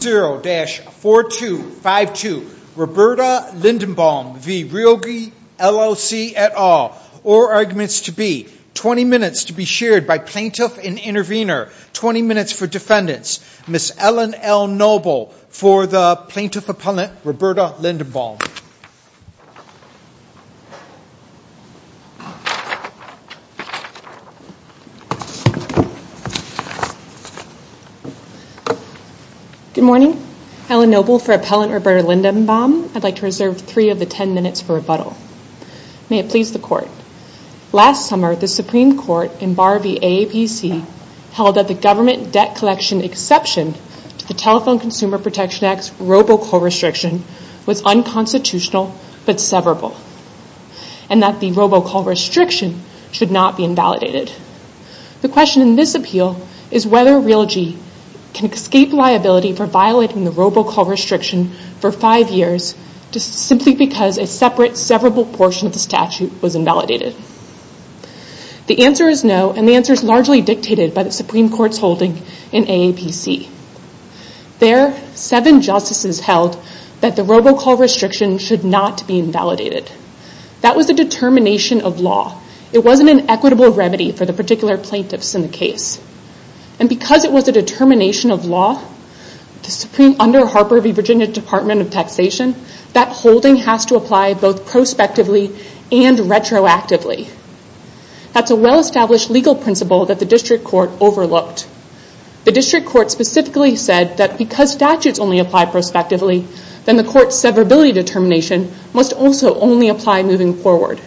0-4252 Roberta Lindenbaum v. Realgy LLC et al. Or arguments to be. 20 minutes to be shared by plaintiff and intervener. 20 minutes for defendants. Ms. Ellen L. Noble for the plaintiff Good morning. Ellen Noble for appellant Roberta Lindenbaum. I'd like to reserve three of the ten minutes for rebuttal. May it please the court. Last summer, the Supreme Court in Bar v. AAPC held that the government debt collection exception to the Telephone Consumer Protection Act's robocall restriction was unconstitutional but severable and that the robocall restriction should not be invalidated. The question in this appeal is whether Realgy can escape liability for violating the robocall restriction for five years just simply because a separate severable portion of the statute was invalidated. The answer is no and the answer is largely dictated by the Supreme Court's holding in AAPC. There, seven justices held that the wasn't an equitable remedy for the particular plaintiffs in the case. Because it was a determination of law, the Supreme under Harper v. Virginia Department of Taxation, that holding has to apply both prospectively and retroactively. That's a well-established legal principle that the district court overlooked. The district court specifically said that because statutes only apply prospectively, then the court's severability determination must also only apply moving forward.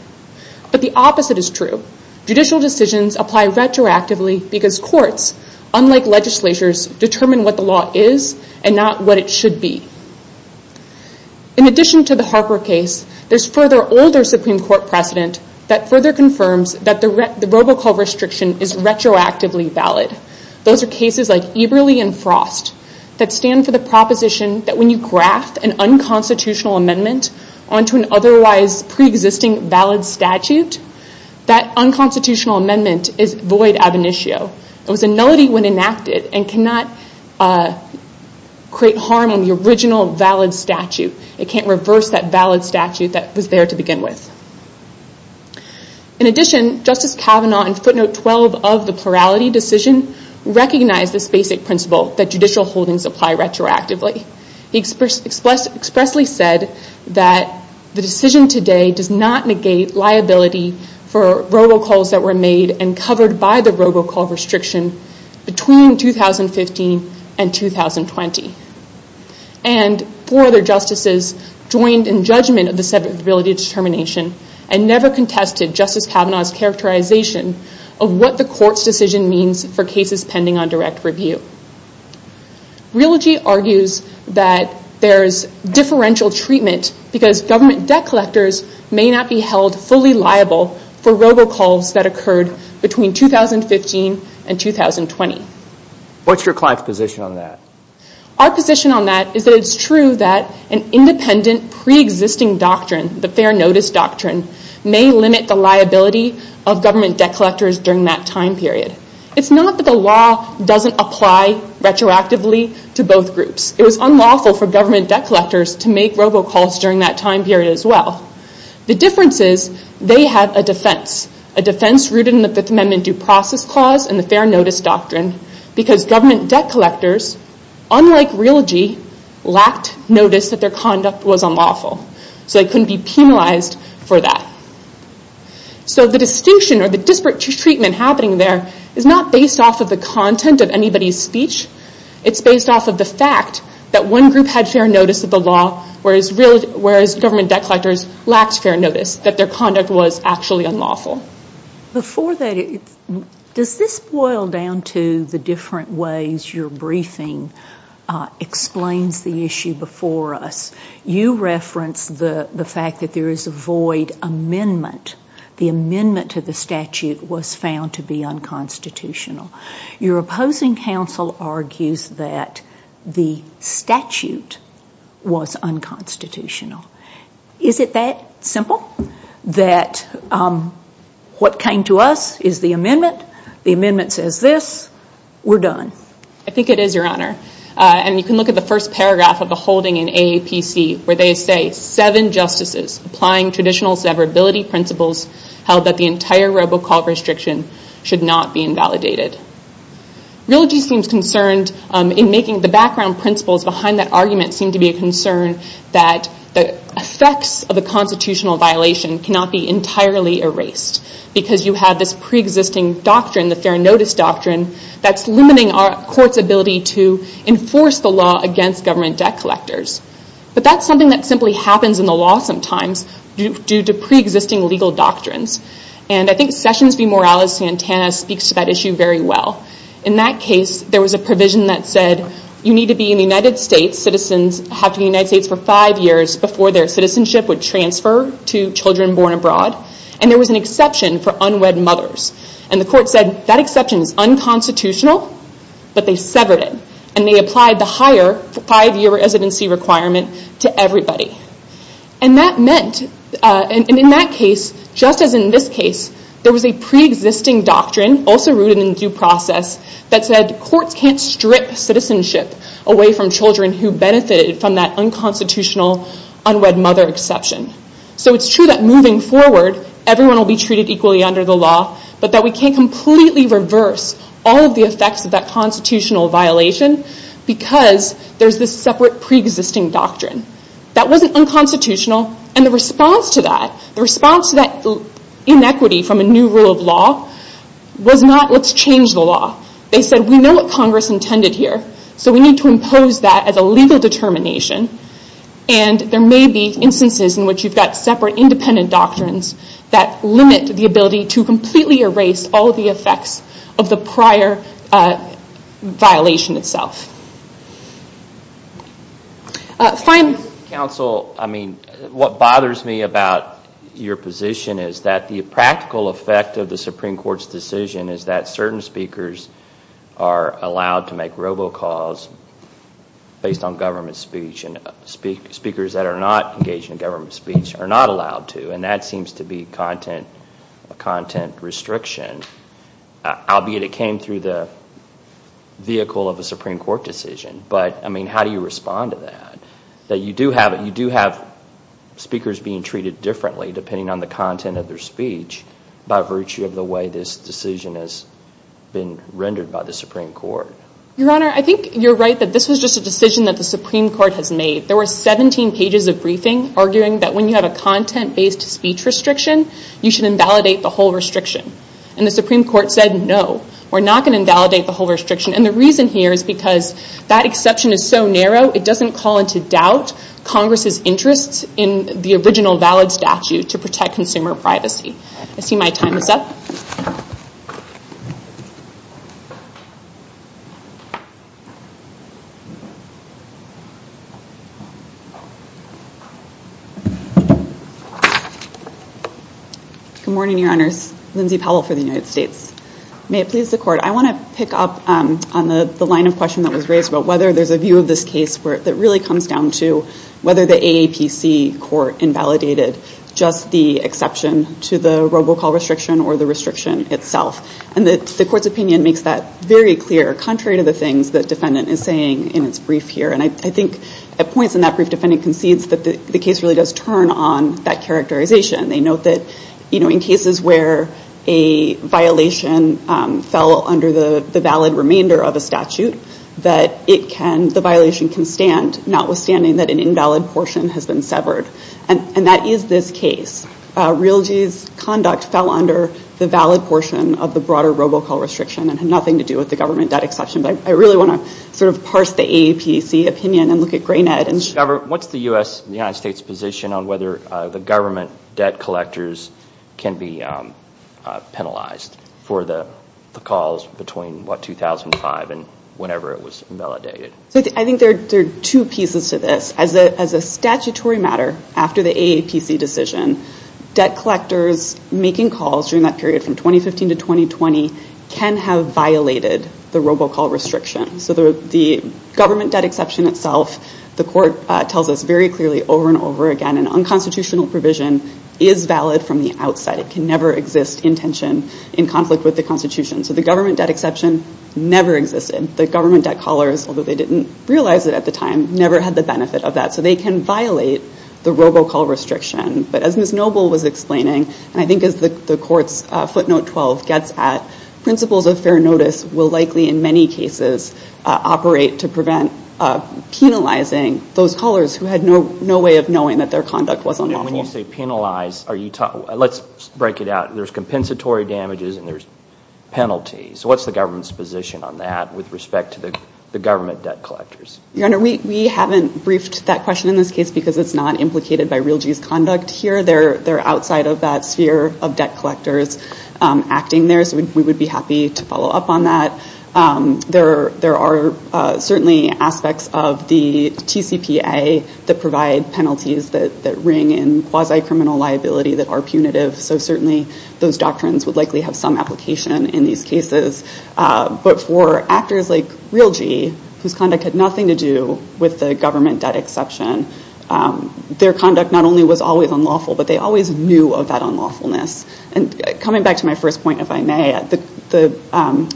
But the opposite is true. Judicial decisions apply retroactively because courts, unlike legislatures, determine what the law is and not what it should be. In addition to the Harper case, there's further older Supreme Court precedent that further confirms that the robocall restriction is retroactively valid. Those are cases like Eberle and Frost that stand for the proposition that when you graft an unconstitutional amendment onto an otherwise preexisting valid statute, that unconstitutional amendment is void ab initio. It was a nullity when enacted and cannot create harm on the original valid statute. It can't reverse that valid statute that was there to begin with. In addition, Justice Kavanaugh in footnote 12 of the plurality decision recognized this basic principle that judicial holdings apply retroactively. He expressly said that the decision today does not negate liability for robocalls that were made and covered by the robocall restriction between 2015 and 2020. Four other justices joined in judgment of the severability determination and never contested Justice Kavanaugh's characterization of what the court's decision means for cases pending on direct review. Realogy argues that there's differential treatment because government debt collectors may not be held fully liable for robocalls that occurred between 2015 and 2020. What's your client's position on that? Our position on that is that it's true that an independent preexisting doctrine, the fair notice doctrine, was unlawful during that time period. It's not that the law doesn't apply retroactively to both groups. It was unlawful for government debt collectors to make robocalls during that time period as well. The difference is they had a defense, a defense rooted in the Fifth Amendment due process clause and the fair notice doctrine because government debt collectors, unlike Realogy, lacked notice that their conduct was unlawful. They couldn't be penalized for that. The distinction or the disparate treatment happening there is not based off of the content of anybody's speech. It's based off of the fact that one group had fair notice of the law whereas government debt collectors lacked fair notice that their conduct was actually unlawful. Before that, does this boil down to the different ways your briefing explains the issue before us? You referenced the fact that there is a void amendment. The amendment to the statute was found to be unconstitutional. Your opposing counsel argues that the statute was unconstitutional. Is it that simple that what came to us is the amendment, the amendment says this, we're done? I think it is, Your Honor. You can look at the first paragraph of the holding in AAPC where they say, seven justices applying traditional severability principles held that the entire robocall restriction should not be invalidated. Realogy seems concerned in making the background principles behind that argument seem to be a concern that the effects of a constitutional violation cannot be entirely erased because you have this preexisting doctrine, the fair court's ability to enforce the law against government debt collectors. That's something that simply happens in the law sometimes due to preexisting legal doctrines. I think Sessions v. Morales-Santana speaks to that issue very well. In that case, there was a provision that said you need to be in the United States, citizens have to be in the United States for five years before their citizenship would transfer to children born abroad. There was an exception for unwed mothers. The court said that exception is unconstitutional but they severed it and they applied the higher five year residency requirement to everybody. In that case, just as in this case, there was a preexisting doctrine also rooted in due process that said courts can't strip citizenship away from children who benefited from that unconstitutional unwed mother exception. It's true that moving forward, everyone will be affected by the effects of that constitutional violation because there's this separate preexisting doctrine. That wasn't unconstitutional and the response to that, the response to that inequity from a new rule of law was not let's change the law. They said we know what Congress intended here so we need to impose that as a legal determination and there may be instances in which you've got separate independent doctrines that limit the ability to completely erase all the effects of the prior violation itself. What bothers me about your position is that the practical effect of the Supreme Court's decision is that certain speakers are allowed to make robocalls based on government speech and speakers that are not engaged in government speech are not allowed to and that seems to be a content restriction, albeit it came through the vehicle of a Supreme Court decision. How do you respond to that? You do have speakers being treated differently depending on the content of their speech by virtue of the way this decision has been rendered by the Supreme Court. Your Honor, I think you're right that this was just a decision that the Supreme Court has made. There were 17 pages of briefing arguing that when you have a content-based speech restriction, you should invalidate the whole restriction. The Supreme Court said no, we're not going to invalidate the whole restriction. The reason here is because that exception is so narrow, it doesn't call into doubt Congress's interest in the original valid statute to protect consumer privacy. Good morning, Your Honors. Lindsay Powell for the United States. May it please the Court, I want to pick up on the line of question that was raised about whether there's a view of this case that really comes down to whether the AAPC court invalidated just the exception to the robocall restriction or the restriction itself. The Court's opinion makes that very clear contrary to the things the defendant is saying in its brief here. I think at points in that brief, the defendant concedes that the case really does turn on that characterization. They note that in cases where a violation fell under the valid remainder of a statute, the violation can stand, notwithstanding that an invalid portion has been severed. That is this case. Realty's conduct fell under the valid portion of the broader robocall restriction and had nothing to do with the government debt exception. I really want to sort of parse the AAPC opinion and look at Graynett. What's the United States position on whether the government debt collectors can be penalized for the calls between 2005 and whenever it was invalidated? I think there are two pieces to this. As a statutory matter, after the AAPC decision, debt collectors making calls during that period from 2015 to 2020 can have violated the robocall restriction. So the government debt exception itself, the Court tells us very clearly over and over again, an unconstitutional provision is valid from the outside. It can never exist in tension, in conflict with the Constitution. So the government debt exception never existed. The government debt collars, although they didn't realize it at the time, never had the benefit of that. So they can violate the robocall restriction. But as Ms. Noble was explaining, and I think as the Court's footnote 12 gets at, principles of fair notice will likely in many cases operate to prevent penalizing those callers who had no way of knowing that their conduct was unlawful. When you say penalize, let's break it out. There's compensatory damages and there's penalties. So what's the government's position on that with respect to the government debt collectors? Your Honor, we haven't briefed that question in this case because it's not implicated by Realgy's conduct here. They're outside of that sphere of debt collectors acting there. We would be happy to follow up on that. There are certainly aspects of the TCPA that provide penalties that ring in quasi-criminal liability that are punitive. So certainly those doctrines would likely have some application in these cases. But for actors like Realgy, whose conduct had nothing to do with the government debt exception, their conduct not only was always unlawful, but they always knew of that unlawfulness. Coming back to my first point, if I may, the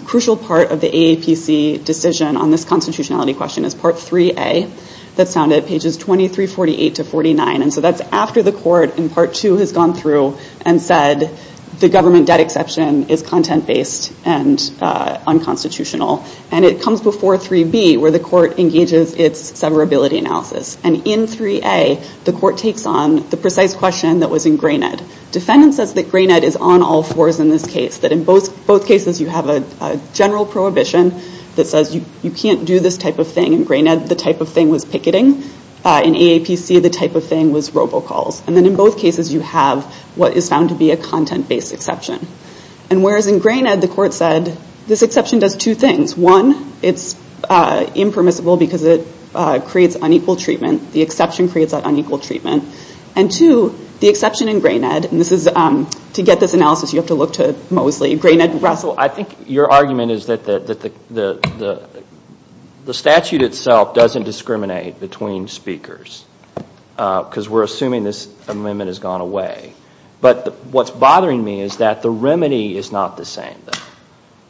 crucial part of the AAPC decision on this constitutionality question is Part 3A that's found at pages 2348 to 49. And so that's after the court in Part 2 has gone through and said the government debt exception is content-based and unconstitutional. And it comes before 3B where the court engages its severability analysis. And in 3A, the court takes on the precise question that was ingrained. Defendant says that Grain Ed is on all fours in this case. That in both cases you have a general prohibition that says you can't do this type of thing. In Grain Ed, the type of thing was picketing. In AAPC, the type of thing was robocalls. And then in both cases you have what is found to be a content-based exception. And whereas in Grain Ed, the court said this exception does two things. One, it's impermissible because it creates unequal treatment. The exception creates that unequal treatment. And two, the exception in Grain Ed, and this is, to get this analysis you have to look to Mosley, Grain Ed and Russell. I think your argument is that the statute itself doesn't discriminate between speakers because we're assuming this amendment has gone away. But what's bothering me is that the remedy is not the same.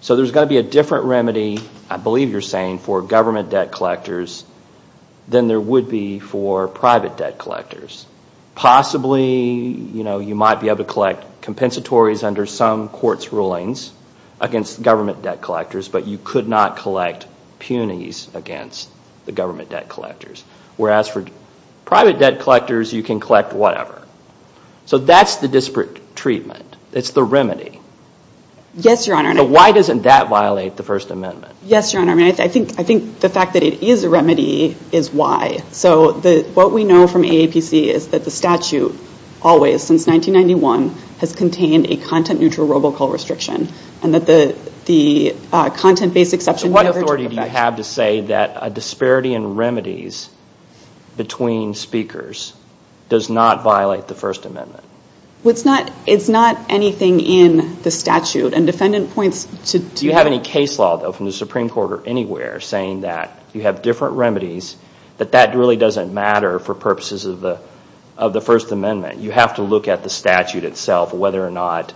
So there's got to be a different remedy, I believe you're referring to private debt collectors, than there would be for private debt collectors. Possibly, you know, you might be able to collect compensatories under some court's rulings against government debt collectors, but you could not collect punies against the government debt collectors. Whereas for private debt collectors, you can collect whatever. So that's the disparate treatment. It's the remedy. Yes, Your Honor. So why doesn't that violate the First Amendment? Yes, Your Honor. I think the fact that it is a remedy is why. So what we know from AAPC is that the statute, always, since 1991, has contained a content neutral robocall restriction. And that the content-based exception never took effect. So what authority do you have to say that a disparity in remedies between speakers does not violate the First Amendment? It's not anything in the statute. And defendant points to... We don't have any case law, though, from the Supreme Court or anywhere, saying that you have different remedies, that that really doesn't matter for purposes of the First Amendment. You have to look at the statute itself, whether or not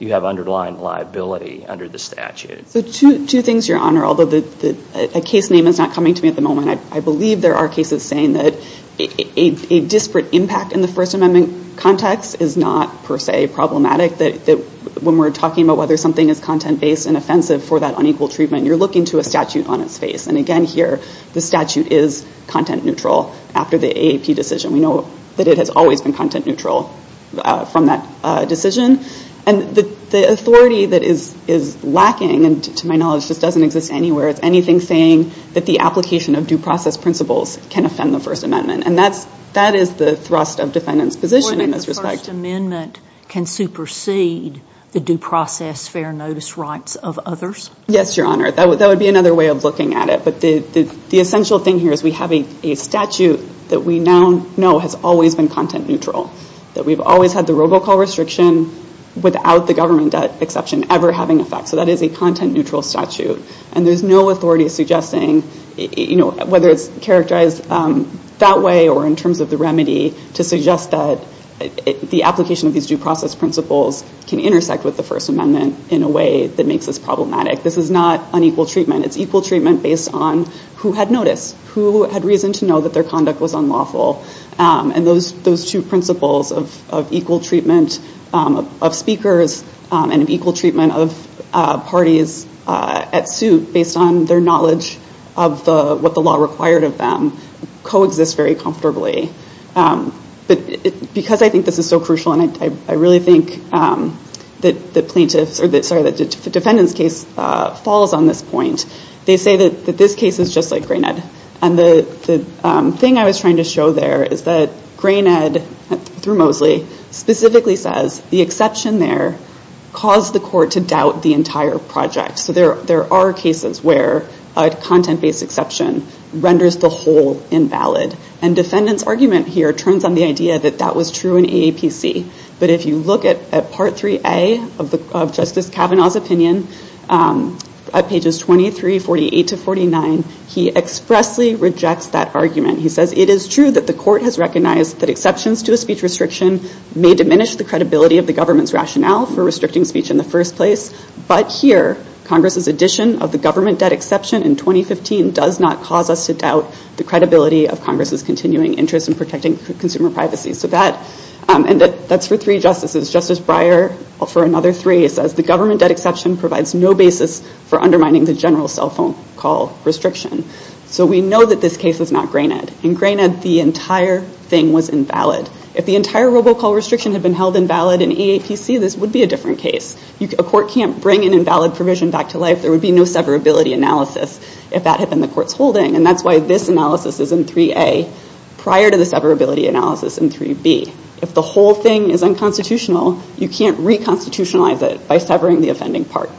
you have underlying liability under the statute. So two things, Your Honor. Although the case name is not coming to me at the moment, I believe there are cases saying that a disparate impact in the First Amendment context is not, per se, problematic, that when we're talking about whether something is content-based and for that unequal treatment, you're looking to a statute on its face. And again, here, the statute is content-neutral after the AAP decision. We know that it has always been content-neutral from that decision. And the authority that is lacking, and to my knowledge, just doesn't exist anywhere, it's anything saying that the application of due process principles can offend the First Amendment. And that is the thrust of defendant's position in this respect. The First Amendment can supersede the due process fair notice rights of others? Yes, Your Honor. That would be another way of looking at it. But the essential thing here is we have a statute that we now know has always been content-neutral, that we've always had the robocall restriction without the government exception ever having an effect. So that is a content-neutral statute. And there's no authority suggesting, whether it's the application of these due process principles can intersect with the First Amendment in a way that makes this problematic. This is not unequal treatment. It's equal treatment based on who had notice, who had reason to know that their conduct was unlawful. And those two principles of equal treatment of speakers and of equal treatment of parties at suit based on their knowledge of what the content-based exception is, is so crucial. And I really think that defendant's case falls on this point. They say that this case is just like Grain Ed. And the thing I was trying to show there is that Grain Ed, through Mosley, specifically says the exception there caused the court to doubt the entire project. So there are cases where a content-based exception renders the whole invalid. And defendant's case is based on the idea that that was true in AAPC. But if you look at Part 3A of Justice Kavanaugh's opinion, at pages 23, 48 to 49, he expressly rejects that argument. He says it is true that the court has recognized that exceptions to a speech restriction may diminish the credibility of the government's rationale for restricting speech in the first place. But here, Congress's addition of the government debt exception in 2015 does not cause us to undermine privacy. And that's for three justices. Justice Breyer, for another three, says the government debt exception provides no basis for undermining the general cell phone call restriction. So we know that this case is not Grain Ed. In Grain Ed, the entire thing was invalid. If the entire robocall restriction had been held invalid in AAPC, this would be a different case. A court can't bring an invalid provision back to life. There would be no severability analysis if that had been the court's holding. And that's why this analysis is in 3A, prior to the severability analysis in 3B. If the whole thing is unconstitutional, you can't reconstitutionalize it by severing the offending part.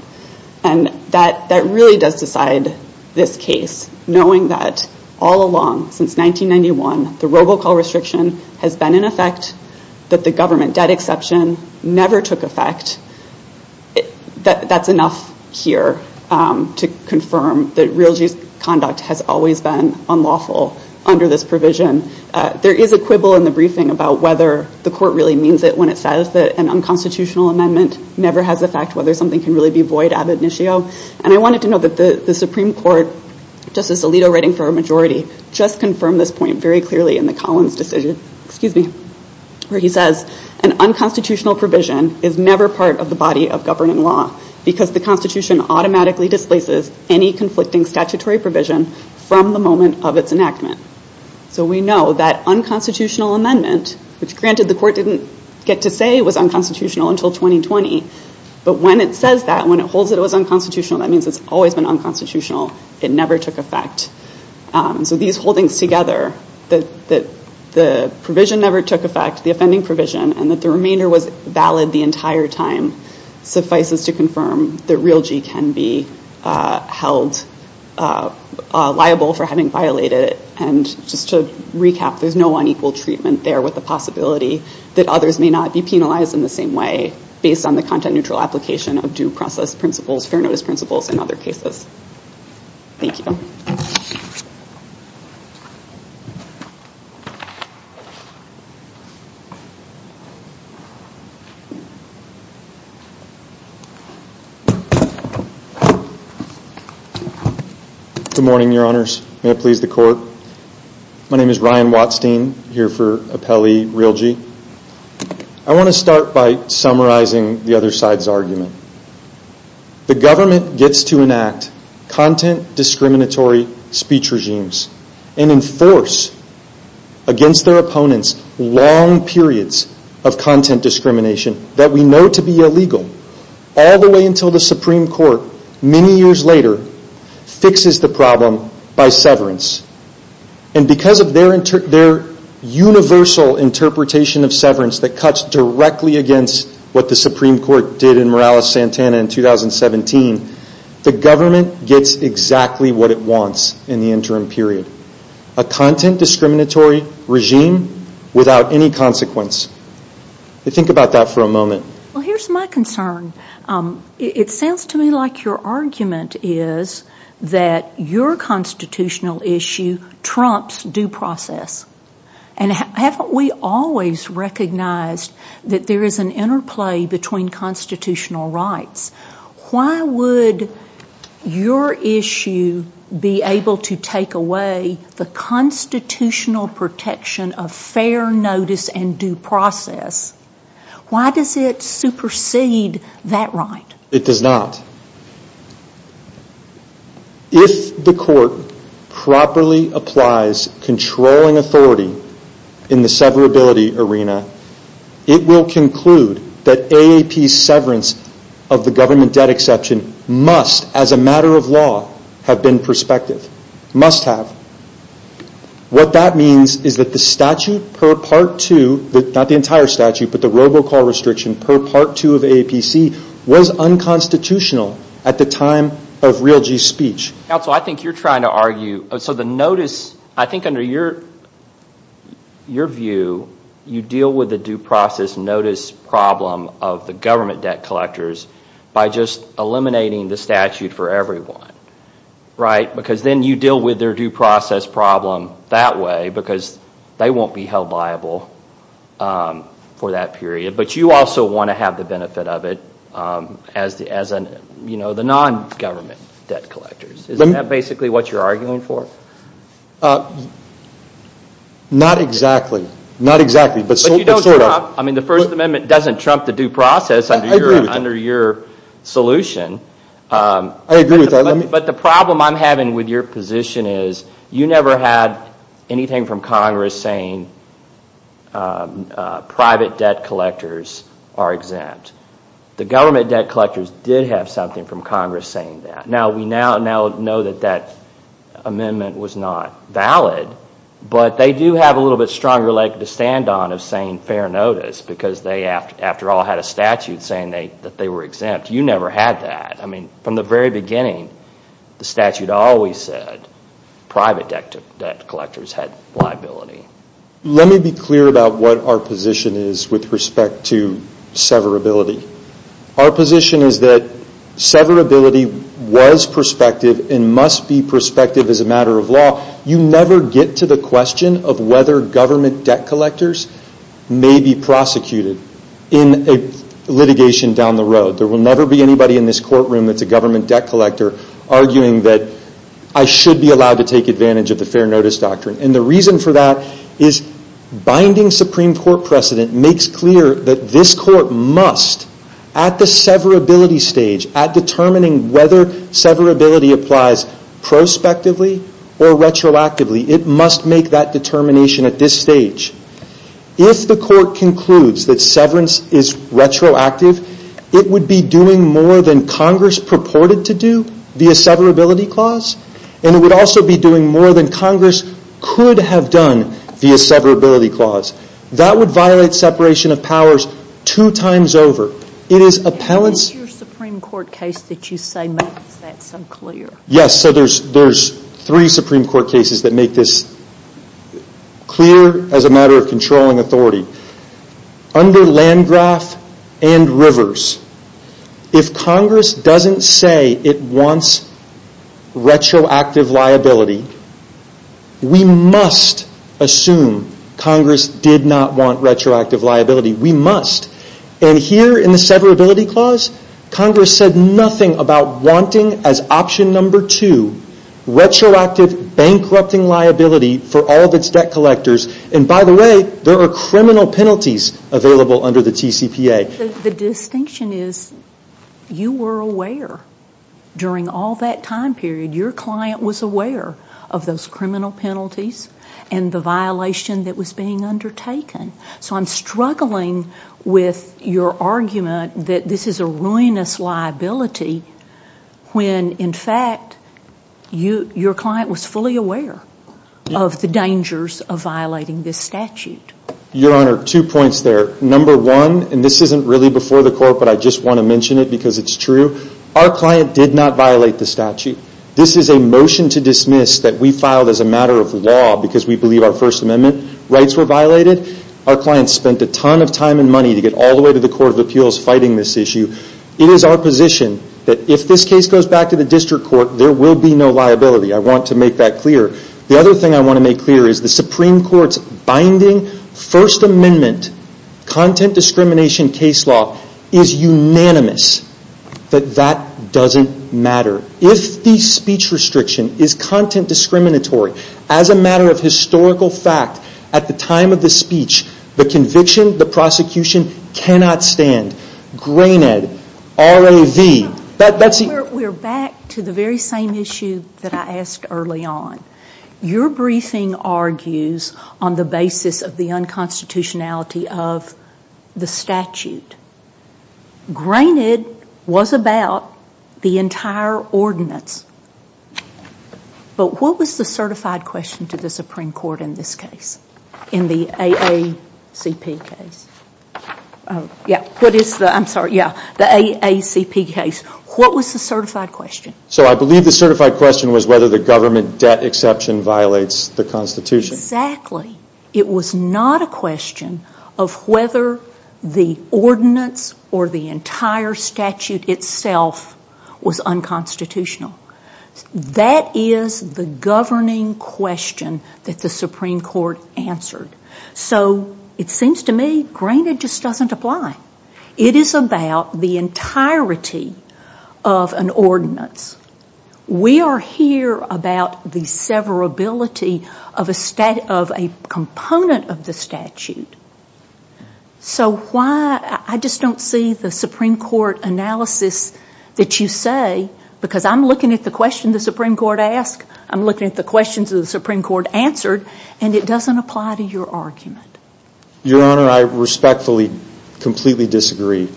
And that really does decide this case, knowing that all along, since 1991, the robocall restriction has been in effect, that the government debt exception never took effect. That's enough here to confirm that real justice conduct has always been unlawful under this provision. There is a quibble in the briefing about whether the court really means it when it says that an unconstitutional amendment never has effect, whether something can really be void ab initio. And I wanted to note that the Supreme Court, Justice Alito writing for a majority, just confirmed this point very clearly in the Collins decision, excuse me, where he says, an unconstitutional provision is never part of the body of governing law because the Constitution automatically displaces any conflicting statutory provision from the moment of its enactment. So we know that unconstitutional amendment, which granted the court didn't get to say was unconstitutional until 2020, but when it says that, when it holds that it was unconstitutional, that means it's always been unconstitutional. It never took effect. So these holdings together, that the provision never took effect, the offending provision, and that the basis to confirm that real G can be held liable for having violated it. And just to recap, there's no unequal treatment there with the possibility that others may not be penalized in the same way based on the content-neutral application of due process principles, fair notice principles, and other cases. Thank you. Good morning, your honors. May it please the court. My name is Ryan Watstein, here for Appellee Real G. I want to start by summarizing the other side's argument. The government gets to enact content-discriminatory speech regimes and enforce against their opponents long periods of content discrimination that we know to be illegal, all the way until the Supreme Court, many years later, fixes the problem by severance. And because of their universal interpretation of severance that cuts directly against what the Supreme Court did in Morales-Santana in 2017, the government gets exactly what it wants in the interim period. A content-discriminatory regime without any consequence. Think about that for a moment. Here's my concern. It sounds to me like your argument is that your constitutional issue trumps due process. And haven't we always recognized that there is an interplay between constitutional rights? Why would your issue be able to take away the constitutional protection of fair notice and due process? Why does it supersede that right? It does not. If the court properly applies controlling authority in the severability arena, it will conclude that AAP's severance of the government debt exception must, as a matter of law, have been prospective. Must have. What that means is that the statute per Part 2, not the entire statute, but the robocall restriction per Part 2 of AAPC, was unconstitutional at the time of Realgy's speech. Counsel, I think you're trying to argue, so the notice, I think under your view, you deal with the due process notice problem of the government debt collectors by just eliminating the statute for everyone, right? Because then you deal with their due process problem that way, because they won't be held liable for that period. But you also want to have the benefit of it as the non-government debt collectors. Isn't that basically what you're arguing for? Not exactly. But sort of. The First Amendment doesn't trump the due process under your solution. But the problem I'm having with your position is you never had anything from Congress saying private debt collectors are exempt. The government debt collectors did have something from Congress saying that. Now we now know that that amendment was not valid, but they do have a little bit longer leg to stand on of saying fair notice, because they, after all, had a statute saying that they were exempt. You never had that. I mean, from the very beginning, the statute always said private debt collectors had liability. Let me be clear about what our position is with respect to severability. Our position is that severability was prospective and must be prospective as a matter of law. You never get to the question of whether government debt collectors may be prosecuted in a litigation down the road. There will never be anybody in this courtroom that's a government debt collector arguing that I should be allowed to take advantage of the fair notice doctrine. The reason for that is binding Supreme Court precedent makes clear that this Court must, at the severability stage, at determining whether severability applies prospectively or retroactively, it must make that determination at this stage. If the Court concludes that severance is retroactive, it would be doing more than Congress purported to do via severability clause, and it would also be doing more than Congress could have done via severability clause. That would violate separation of powers two times over. It is appellants... Supreme Court cases that make this clear as a matter of controlling authority. Under Landgraf and Rivers, if Congress doesn't say it wants retroactive liability, we must assume Congress did not want retroactive liability. We must. Here in the severability clause, Congress said nothing about wanting as option number two retroactive bankrupting liability for all of its debt collectors. By the way, there are criminal penalties available under the TCPA. The distinction is you were aware during all that time period, your client was aware of those criminal penalties and the violation that was being undertaken. I'm struggling with your argument that this is a ruinous liability when in fact your client was fully aware of the dangers of violating this statute. Your Honor, two points there. Number one, and this isn't really before the Court, but I just want to mention it because it's true. Our client did not violate the statute. This is a motion to dismiss that we filed as a matter of law because we believe our First Amendment case law is unanimous. If the speech restriction is content discriminatory as a matter of historical fact, at the time of the speech, the conviction, the prosecution cannot stand. We're back to the very same issue that I asked early on. Your briefing argues on the basis of the unconstitutionality of the statute. Granted, it was about the entire ordinance, but what was the certified question to the Supreme Court in this case, in the AACP case? What was the certified question? So I believe the certified question was whether the government debt exception violates the Constitution. Exactly. It was not a question of whether the ordinance or the entire statute itself was unconstitutional. That is the governing question that the Supreme Court answered. So it seems to me, granted, it just doesn't apply. It is about the entirety of an ordinance. We are here about the severability of a component of the statute. I just don't see the Supreme Court answering the questions that you say, because I'm looking at the question the Supreme Court asked, I'm looking at the questions that the Supreme Court answered, and it doesn't apply to your argument. Your Honor, I respectfully, completely disagree.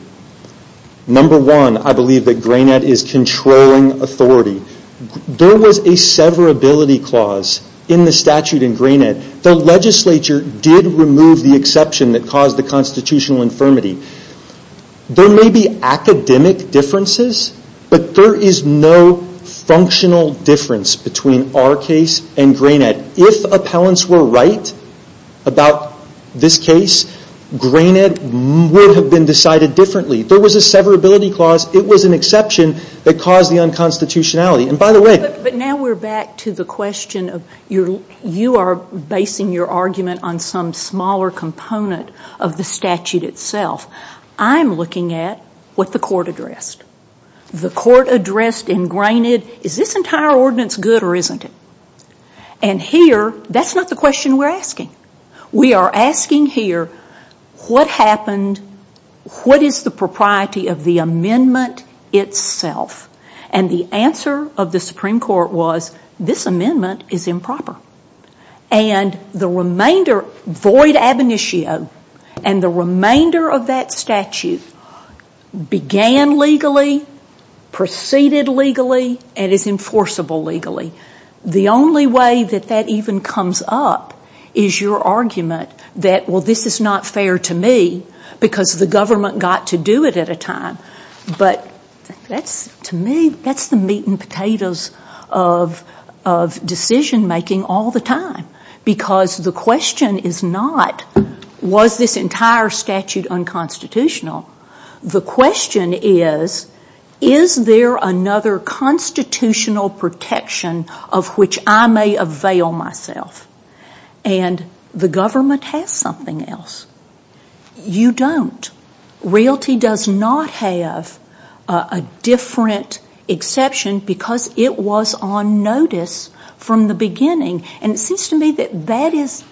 Number one, I believe that Grainette is controlling authority. There was a severability clause in the statute in Grainette. The legislature did remove the exception that caused the constitutional infirmity. There may be academic differences, but there is no functional difference between our case and Grainette. If appellants were right about this case, Grainette would have been decided differently. There was a severability clause. It was an exception that caused the unconstitutionality. But now we're back to the question of you are basing your argument on some smaller component of the statute itself. I'm looking at what the court addressed. The court addressed in Grainette, is this entire ordinance good or isn't it? And here, that's not the question we're asking. We are asking here, what happened, what is the propriety of the amendment itself? And the answer of the Supreme Court was, this amendment is improper. And the remainder, void ab initio, and the remainder of that statute began legally, preceded legally, and is enforceable legally. The only way that that even comes up is your argument that well, this is not fair to me, because the government got to do it at a time. But that's, to me, that's the meat and potatoes of decision making all the time. Because the question is not, was this entire statute unconstitutional? The question is, is there another constitutional protection of which I may avail myself? And the government has something else. You don't. Realty does not have a different exception because it was on notice from the beginning. And it seems to me that that is,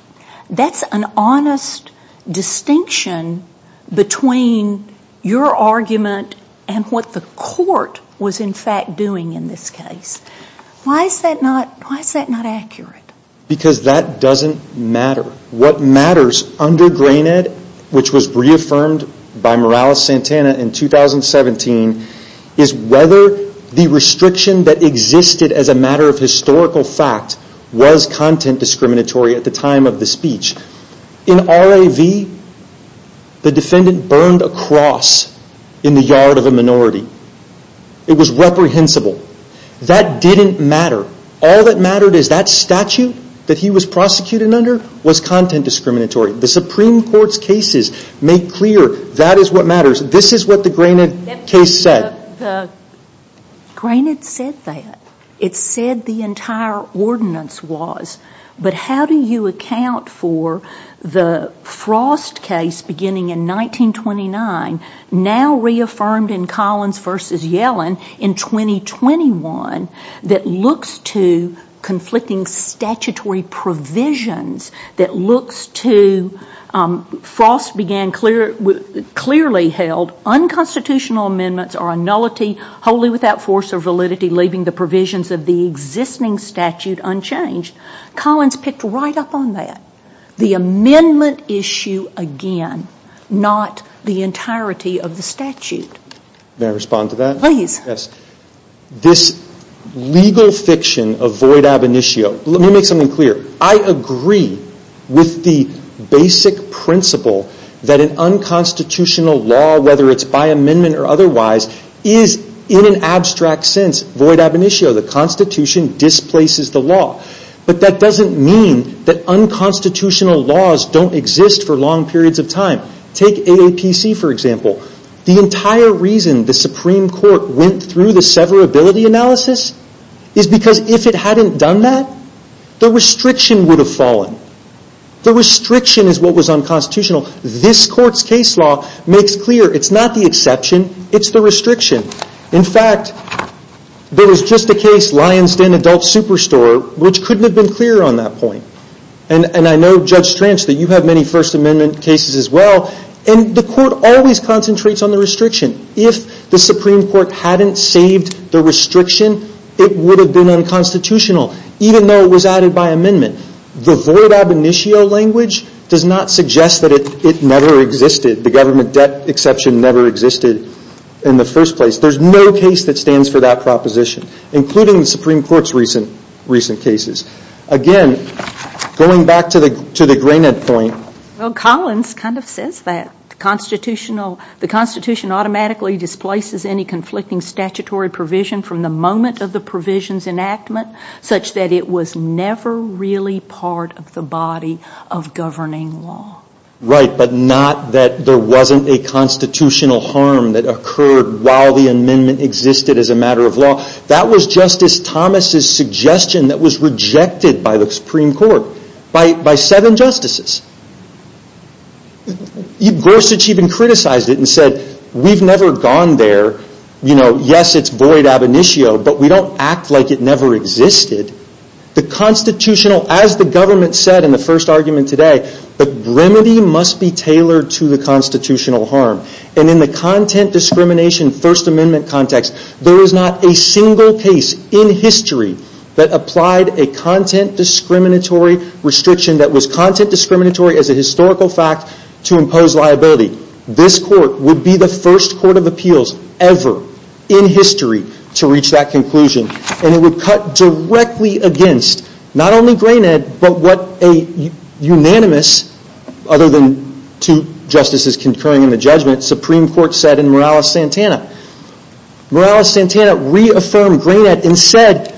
that's an honest distinction between your argument and what the court was in fact doing in this case. Why is that not accurate? Because that doesn't matter. What matters under GRAINED, which was reaffirmed by Morales-Santana in 2017, is whether the restriction that existed as a matter of historical fact was content discriminatory at the time of the speech. In RAV, the defendant burned a cross in the minority. It was reprehensible. That didn't matter. All that mattered is that statute that he was prosecuted under was content discriminatory. The Supreme Court's cases make clear that is what matters. This is what the GRAINED case said. The GRAINED said that. It said the entire ordinance was. But how do you account for the Frost case beginning in 1929, now reaffirmed in Collins v. Yellen in 2021, that looks to conflicting statutory provisions, that looks to, Frost began clearly held unconstitutional amendments are a nullity, wholly without force or validity, leaving the provisions of the amendment issue again, not the entirety of the statute? May I respond to that? Please. This legal fiction of void ab initio, let me make something clear. I agree with the basic principle that an unconstitutional law, whether it's by amendment or otherwise, is in an abstract sense void ab initio. The Constitution displaces the law. But that doesn't mean that unconstitutional laws don't exist for long periods of time. Take AAPC, for example. The entire reason the Supreme Court went through the severability analysis is because if it hadn't done that, the restriction would have fallen. The restriction is what was unconstitutional. This Court's case law makes clear it's not the exception, it's the restriction. In fact, there was just a case, Lyons Den Adult Superstore, which couldn't have been clearer on that point. I know, Judge Stranch, that you have many First Amendment cases as well. The Court always concentrates on the restriction. If the Supreme Court hadn't saved the restriction, it would have been unconstitutional, even though it was added by amendment. The void ab initio language does not suggest that it never existed. The government debt exception never existed in the first place. There's no case that stands for that proposition, including the Supreme Court's recent cases. Again, going back to the Graynett point... Well, Collins kind of says that. The Constitution automatically displaces any conflicting statutory provision from the moment of the provision's enactment, such that it was never really part of the body of governing law. Right, but not that there wasn't a constitutional harm that occurred while the amendment existed as a matter of law. That was Justice Thomas' suggestion that was rejected by the Supreme Court by seven justices. Gorsuch even criticized it and said, we've never gone there. Yes, it's void ab initio, but we don't act like it never existed. The constitutional, as the government said in the first argument today, the remedy must be tailored to the constitutional harm. In the content discrimination First Amendment context, there is not a single case in history that applied a content discriminatory restriction that was content discriminatory as a historical fact to impose liability. This court would be the first court of appeals ever in history to reach that conclusion. It would cut directly against not only Graynett, but what a unanimous other than two justices concurring in the judgment, Supreme Court said in Morales-Santana. Morales-Santana reaffirmed Graynett and said,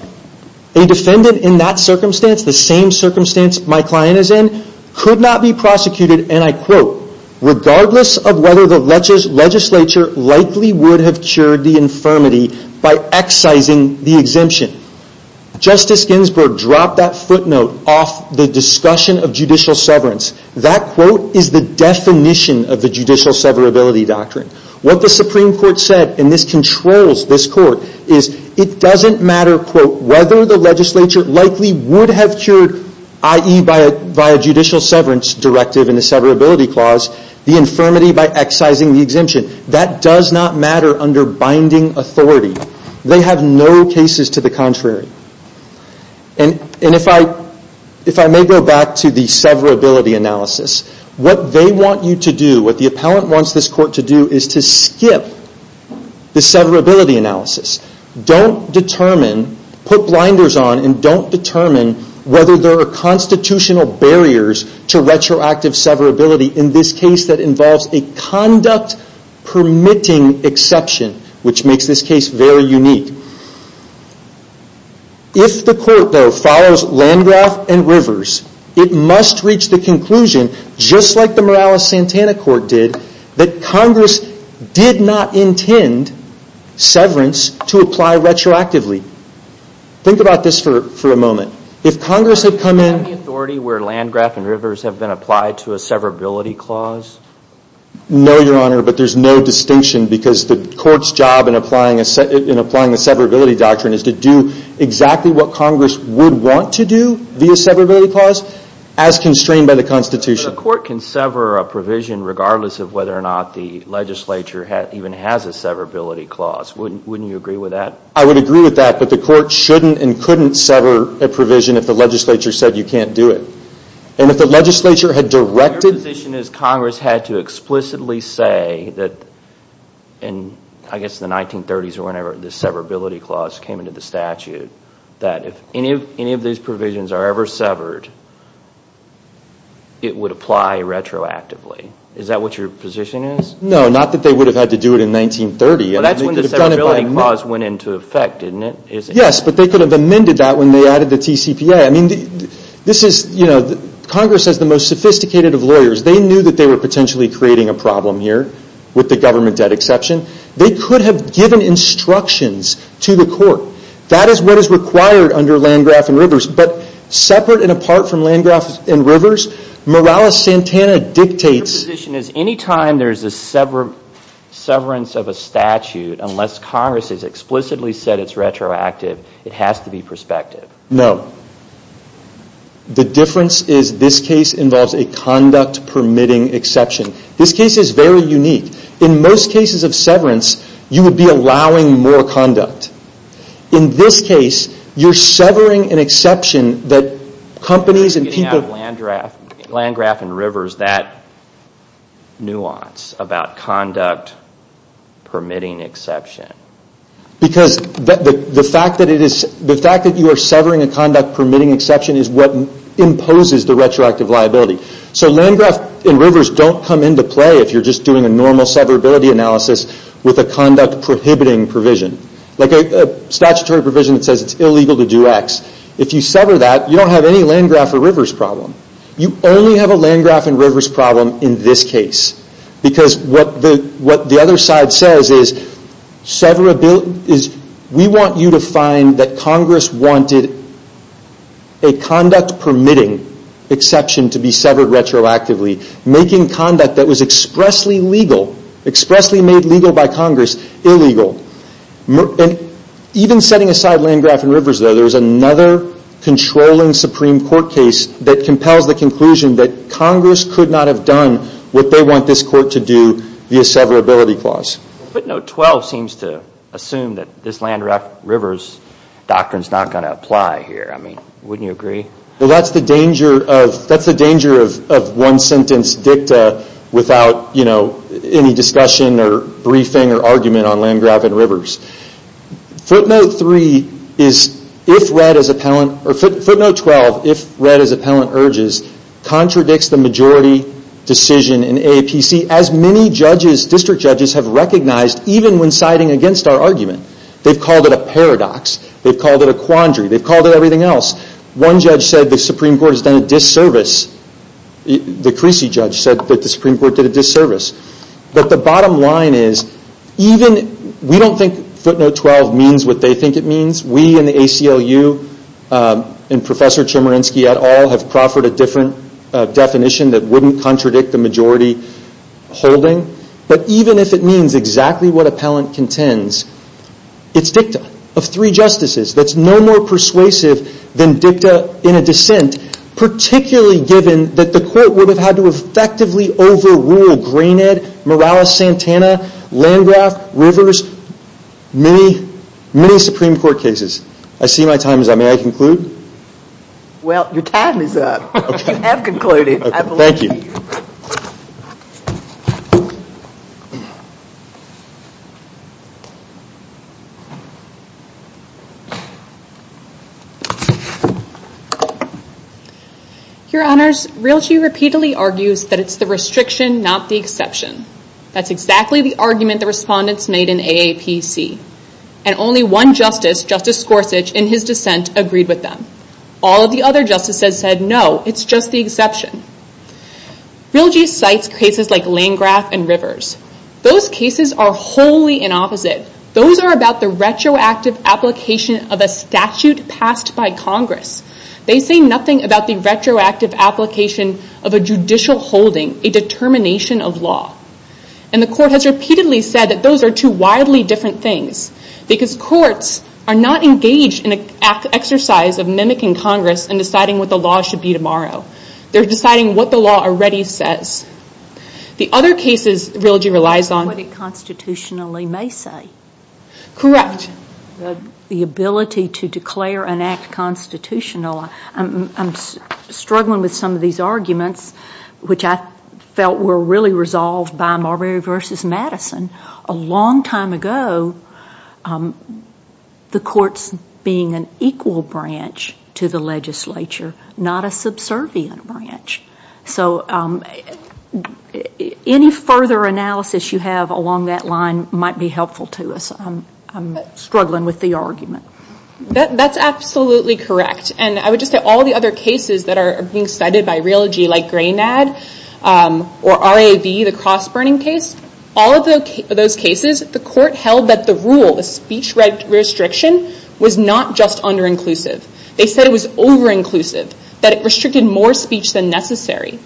a defendant in that circumstance, the same circumstance my client is in, could not be prosecuted, and I quote, regardless of whether the legislature likely would have cured the infirmity by excising the exemption. Justice Ginsburg dropped that footnote off the discussion of judicial severance. That quote is the definition of the judicial severability doctrine. What the Supreme Court said, and this controls this court, is it doesn't matter, quote, whether the legislature likely would have cured, i.e. by a judicial severance directive and a severability clause, the infirmity by excising the exemption. That does not matter under binding authority. They have no cases to the contrary. And if I may go back to the severability analysis, what they want you to do, what the appellant wants this court to do, is to skip the severability analysis. Don't determine, put blinders on, and don't determine whether there are constitutional barriers to retroactive severability in this case that involves a conduct permitting exception, which makes this case very unique. If the court, though, follows Landgraf and Rivers, it must reach the conclusion, just like the Morales-Santana court did, that Congress did not intend severance to apply retroactively. Think about this for a moment. If Congress had come in... Is there any authority where Landgraf and Rivers have been applied to a severability clause? No, Your Honor, but there's no distinction, because the court's job in applying a severability doctrine is to do exactly what Congress would want to do via severability clause, as constrained by the Constitution. But the court can sever a provision regardless of whether or not the legislature even has a severability clause. Wouldn't you agree with that? I would agree with that, but the court shouldn't and couldn't sever a provision if the legislature said you can't do it. And if the legislature had directed... Your position is Congress had to explicitly say that, I guess in the 1930s or whenever, the severability clause came into the statute, that if any of these provisions are ever severed, it would apply retroactively. Is that what your position is? No, not that they would have had to do it in 1930. Well, that's when the severability clause went into effect, isn't it? Yes, but they could have amended that when they added the TCPA. I mean, this is, you know, Congress has the most sophisticated of lawyers. They knew that they were potentially creating a problem here, with the government debt exception. They could have given instructions to the court. That is what is required under Landgraf and Rivers, but separate and apart from Landgraf and Rivers, Morales-Santana dictates... Your position is any time there's a severance of a statute, unless Congress has explicitly said it's retroactive, it has to be prospective. No. The difference is this case involves a conduct-permitting exception. This case is very unique. In most cases of severance, you would be allowing more conduct. In this case, you're severing an exception that companies and people... You're getting out of Landgraf and Rivers that nuance about conduct-permitting exception. Because the fact that you are severing a conduct-permitting exception is what imposes the retroactive liability. Landgraf and Rivers don't come into play if you're just doing a normal severability analysis with a conduct-prohibiting provision, like a statutory provision that says it's illegal to do X. If you sever that, you don't have any Landgraf or Rivers problem. You only have severability... We want you to find that Congress wanted a conduct-permitting exception to be severed retroactively, making conduct that was expressly legal, expressly made legal by Congress, illegal. Even setting aside Landgraf and Rivers, though, there's another controlling Supreme Court case that compels the conclusion that Congress could not have done what they want this court to do via severability clause. Footnote 12 seems to assume that this Landgraf and Rivers doctrine is not going to apply here. Wouldn't you agree? That's the danger of one-sentence dicta without any discussion or briefing or argument on Landgraf and Rivers. Footnote 12, if read as appellant urges, contradicts the majority decision in AAPC, as many district judges have recognized, even when siding against our argument. They've called it a paradox. They've called it a quandary. They've called it everything else. One judge said the Supreme Court has done a disservice. The Creasy judge said that the Supreme Court did a disservice. The bottom line is, we don't think footnote 12 means what they think it means. We in the Supreme Court don't think it means to contradict the majority holding. But even if it means exactly what appellant contends, it's dicta of three justices that's no more persuasive than dicta in a dissent, particularly given that the court would have had to effectively overrule Greenhead, Morales-Santana, Landgraf, Rivers, many, many Supreme Court cases. I see my time is up. May I conclude? Well, your time is up. You have concluded, I believe. Thank you. Your Honors, Realty repeatedly argues that it's the restriction, not the exception. That's exactly the argument the respondents made in AAPC. And only one justice, Justice Scorsese, in his dissent agreed with them. All of the other justices said, no, it's just the exception. Realty cites cases like Landgraf and Rivers. Those cases are wholly in opposite. Those are about the retroactive application of a statute passed by Congress. They say nothing about the retroactive application of a judicial holding, a determination of law. And the court has repeatedly said that those are two wildly different things, because courts are not engaged in an exercise of mimicking Congress and deciding what the law should be tomorrow. They're deciding what the law already says. The other cases Realty relies on- What it constitutionally may say. Correct. The ability to declare an act constitutional. I'm struggling with some of these arguments, which I felt were really resolved by Marbury v. Madison a long time ago. The courts being an equal branch to the legislature, not a subservient branch. So any further analysis you have along that line might be helpful to us. I'm struggling with the argument. That's absolutely correct. And I would just say all the other cases that are being cited by Realty like Granad or RAV, the cross-burning case. All of those cases, the court held that the rule, the speech restriction, was not just under-inclusive. They said it was over-inclusive, that it restricted more speech than necessary.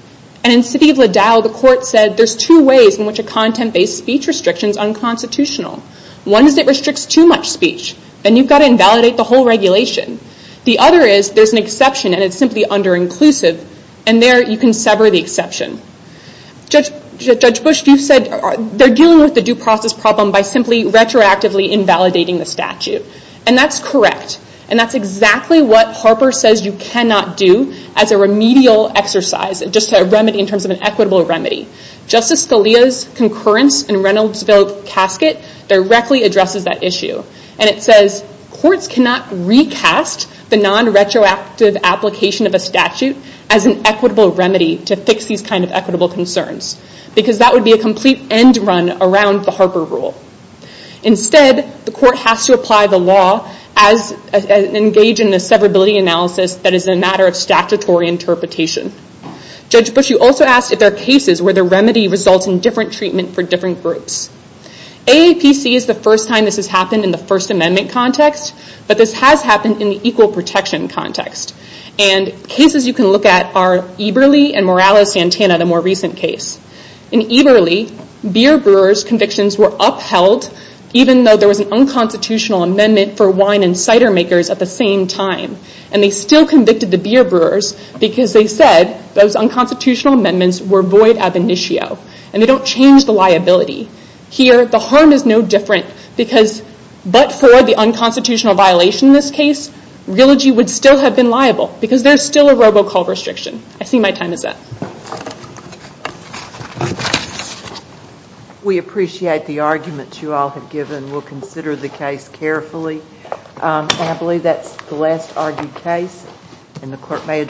And in city of Liddell, the court said there's two ways in which a content-based speech restriction is unconstitutional. One is it restricts too much speech, and you've got to invalidate the whole regulation. The other is there's an exception and it's simply under-inclusive, and there you can sever the exception. Judge Bush, you said they're dealing with the due process problem by simply retroactively invalidating the statute. And that's correct. And that's exactly what Harper says you cannot do as a remedial exercise, just a remedy in terms of an equitable remedy. Justice Scalia's concurrence in Reynoldsville casket directly addresses that issue. And it says courts cannot recast the non-retroactive application of a statute as an equitable remedy to fix these kind of equitable concerns, because that would be a complete end run around the Harper rule. Instead, the court has to apply the law and engage in a severability analysis that is a matter of statutory interpretation. Judge Bush, you also asked if there are cases where the remedy results in different treatment for different groups. AAPC is the first time this has happened in the First Amendment context, but this has happened in the equal protection context. And cases you can look at are Eberle and Morales-Santana, the more recent case. In Eberle, beer brewers' convictions were upheld even though there was an unconstitutional amendment for wine and cider makers at the same time. And they still convicted the beer brewers because they said those unconstitutional amendments were void ab initio, and they don't change the liability. Here, the harm is no different because but for the unconstitutional violation in this case, Realogy would still have been liable because there is still a robocall restriction. I see my time is up.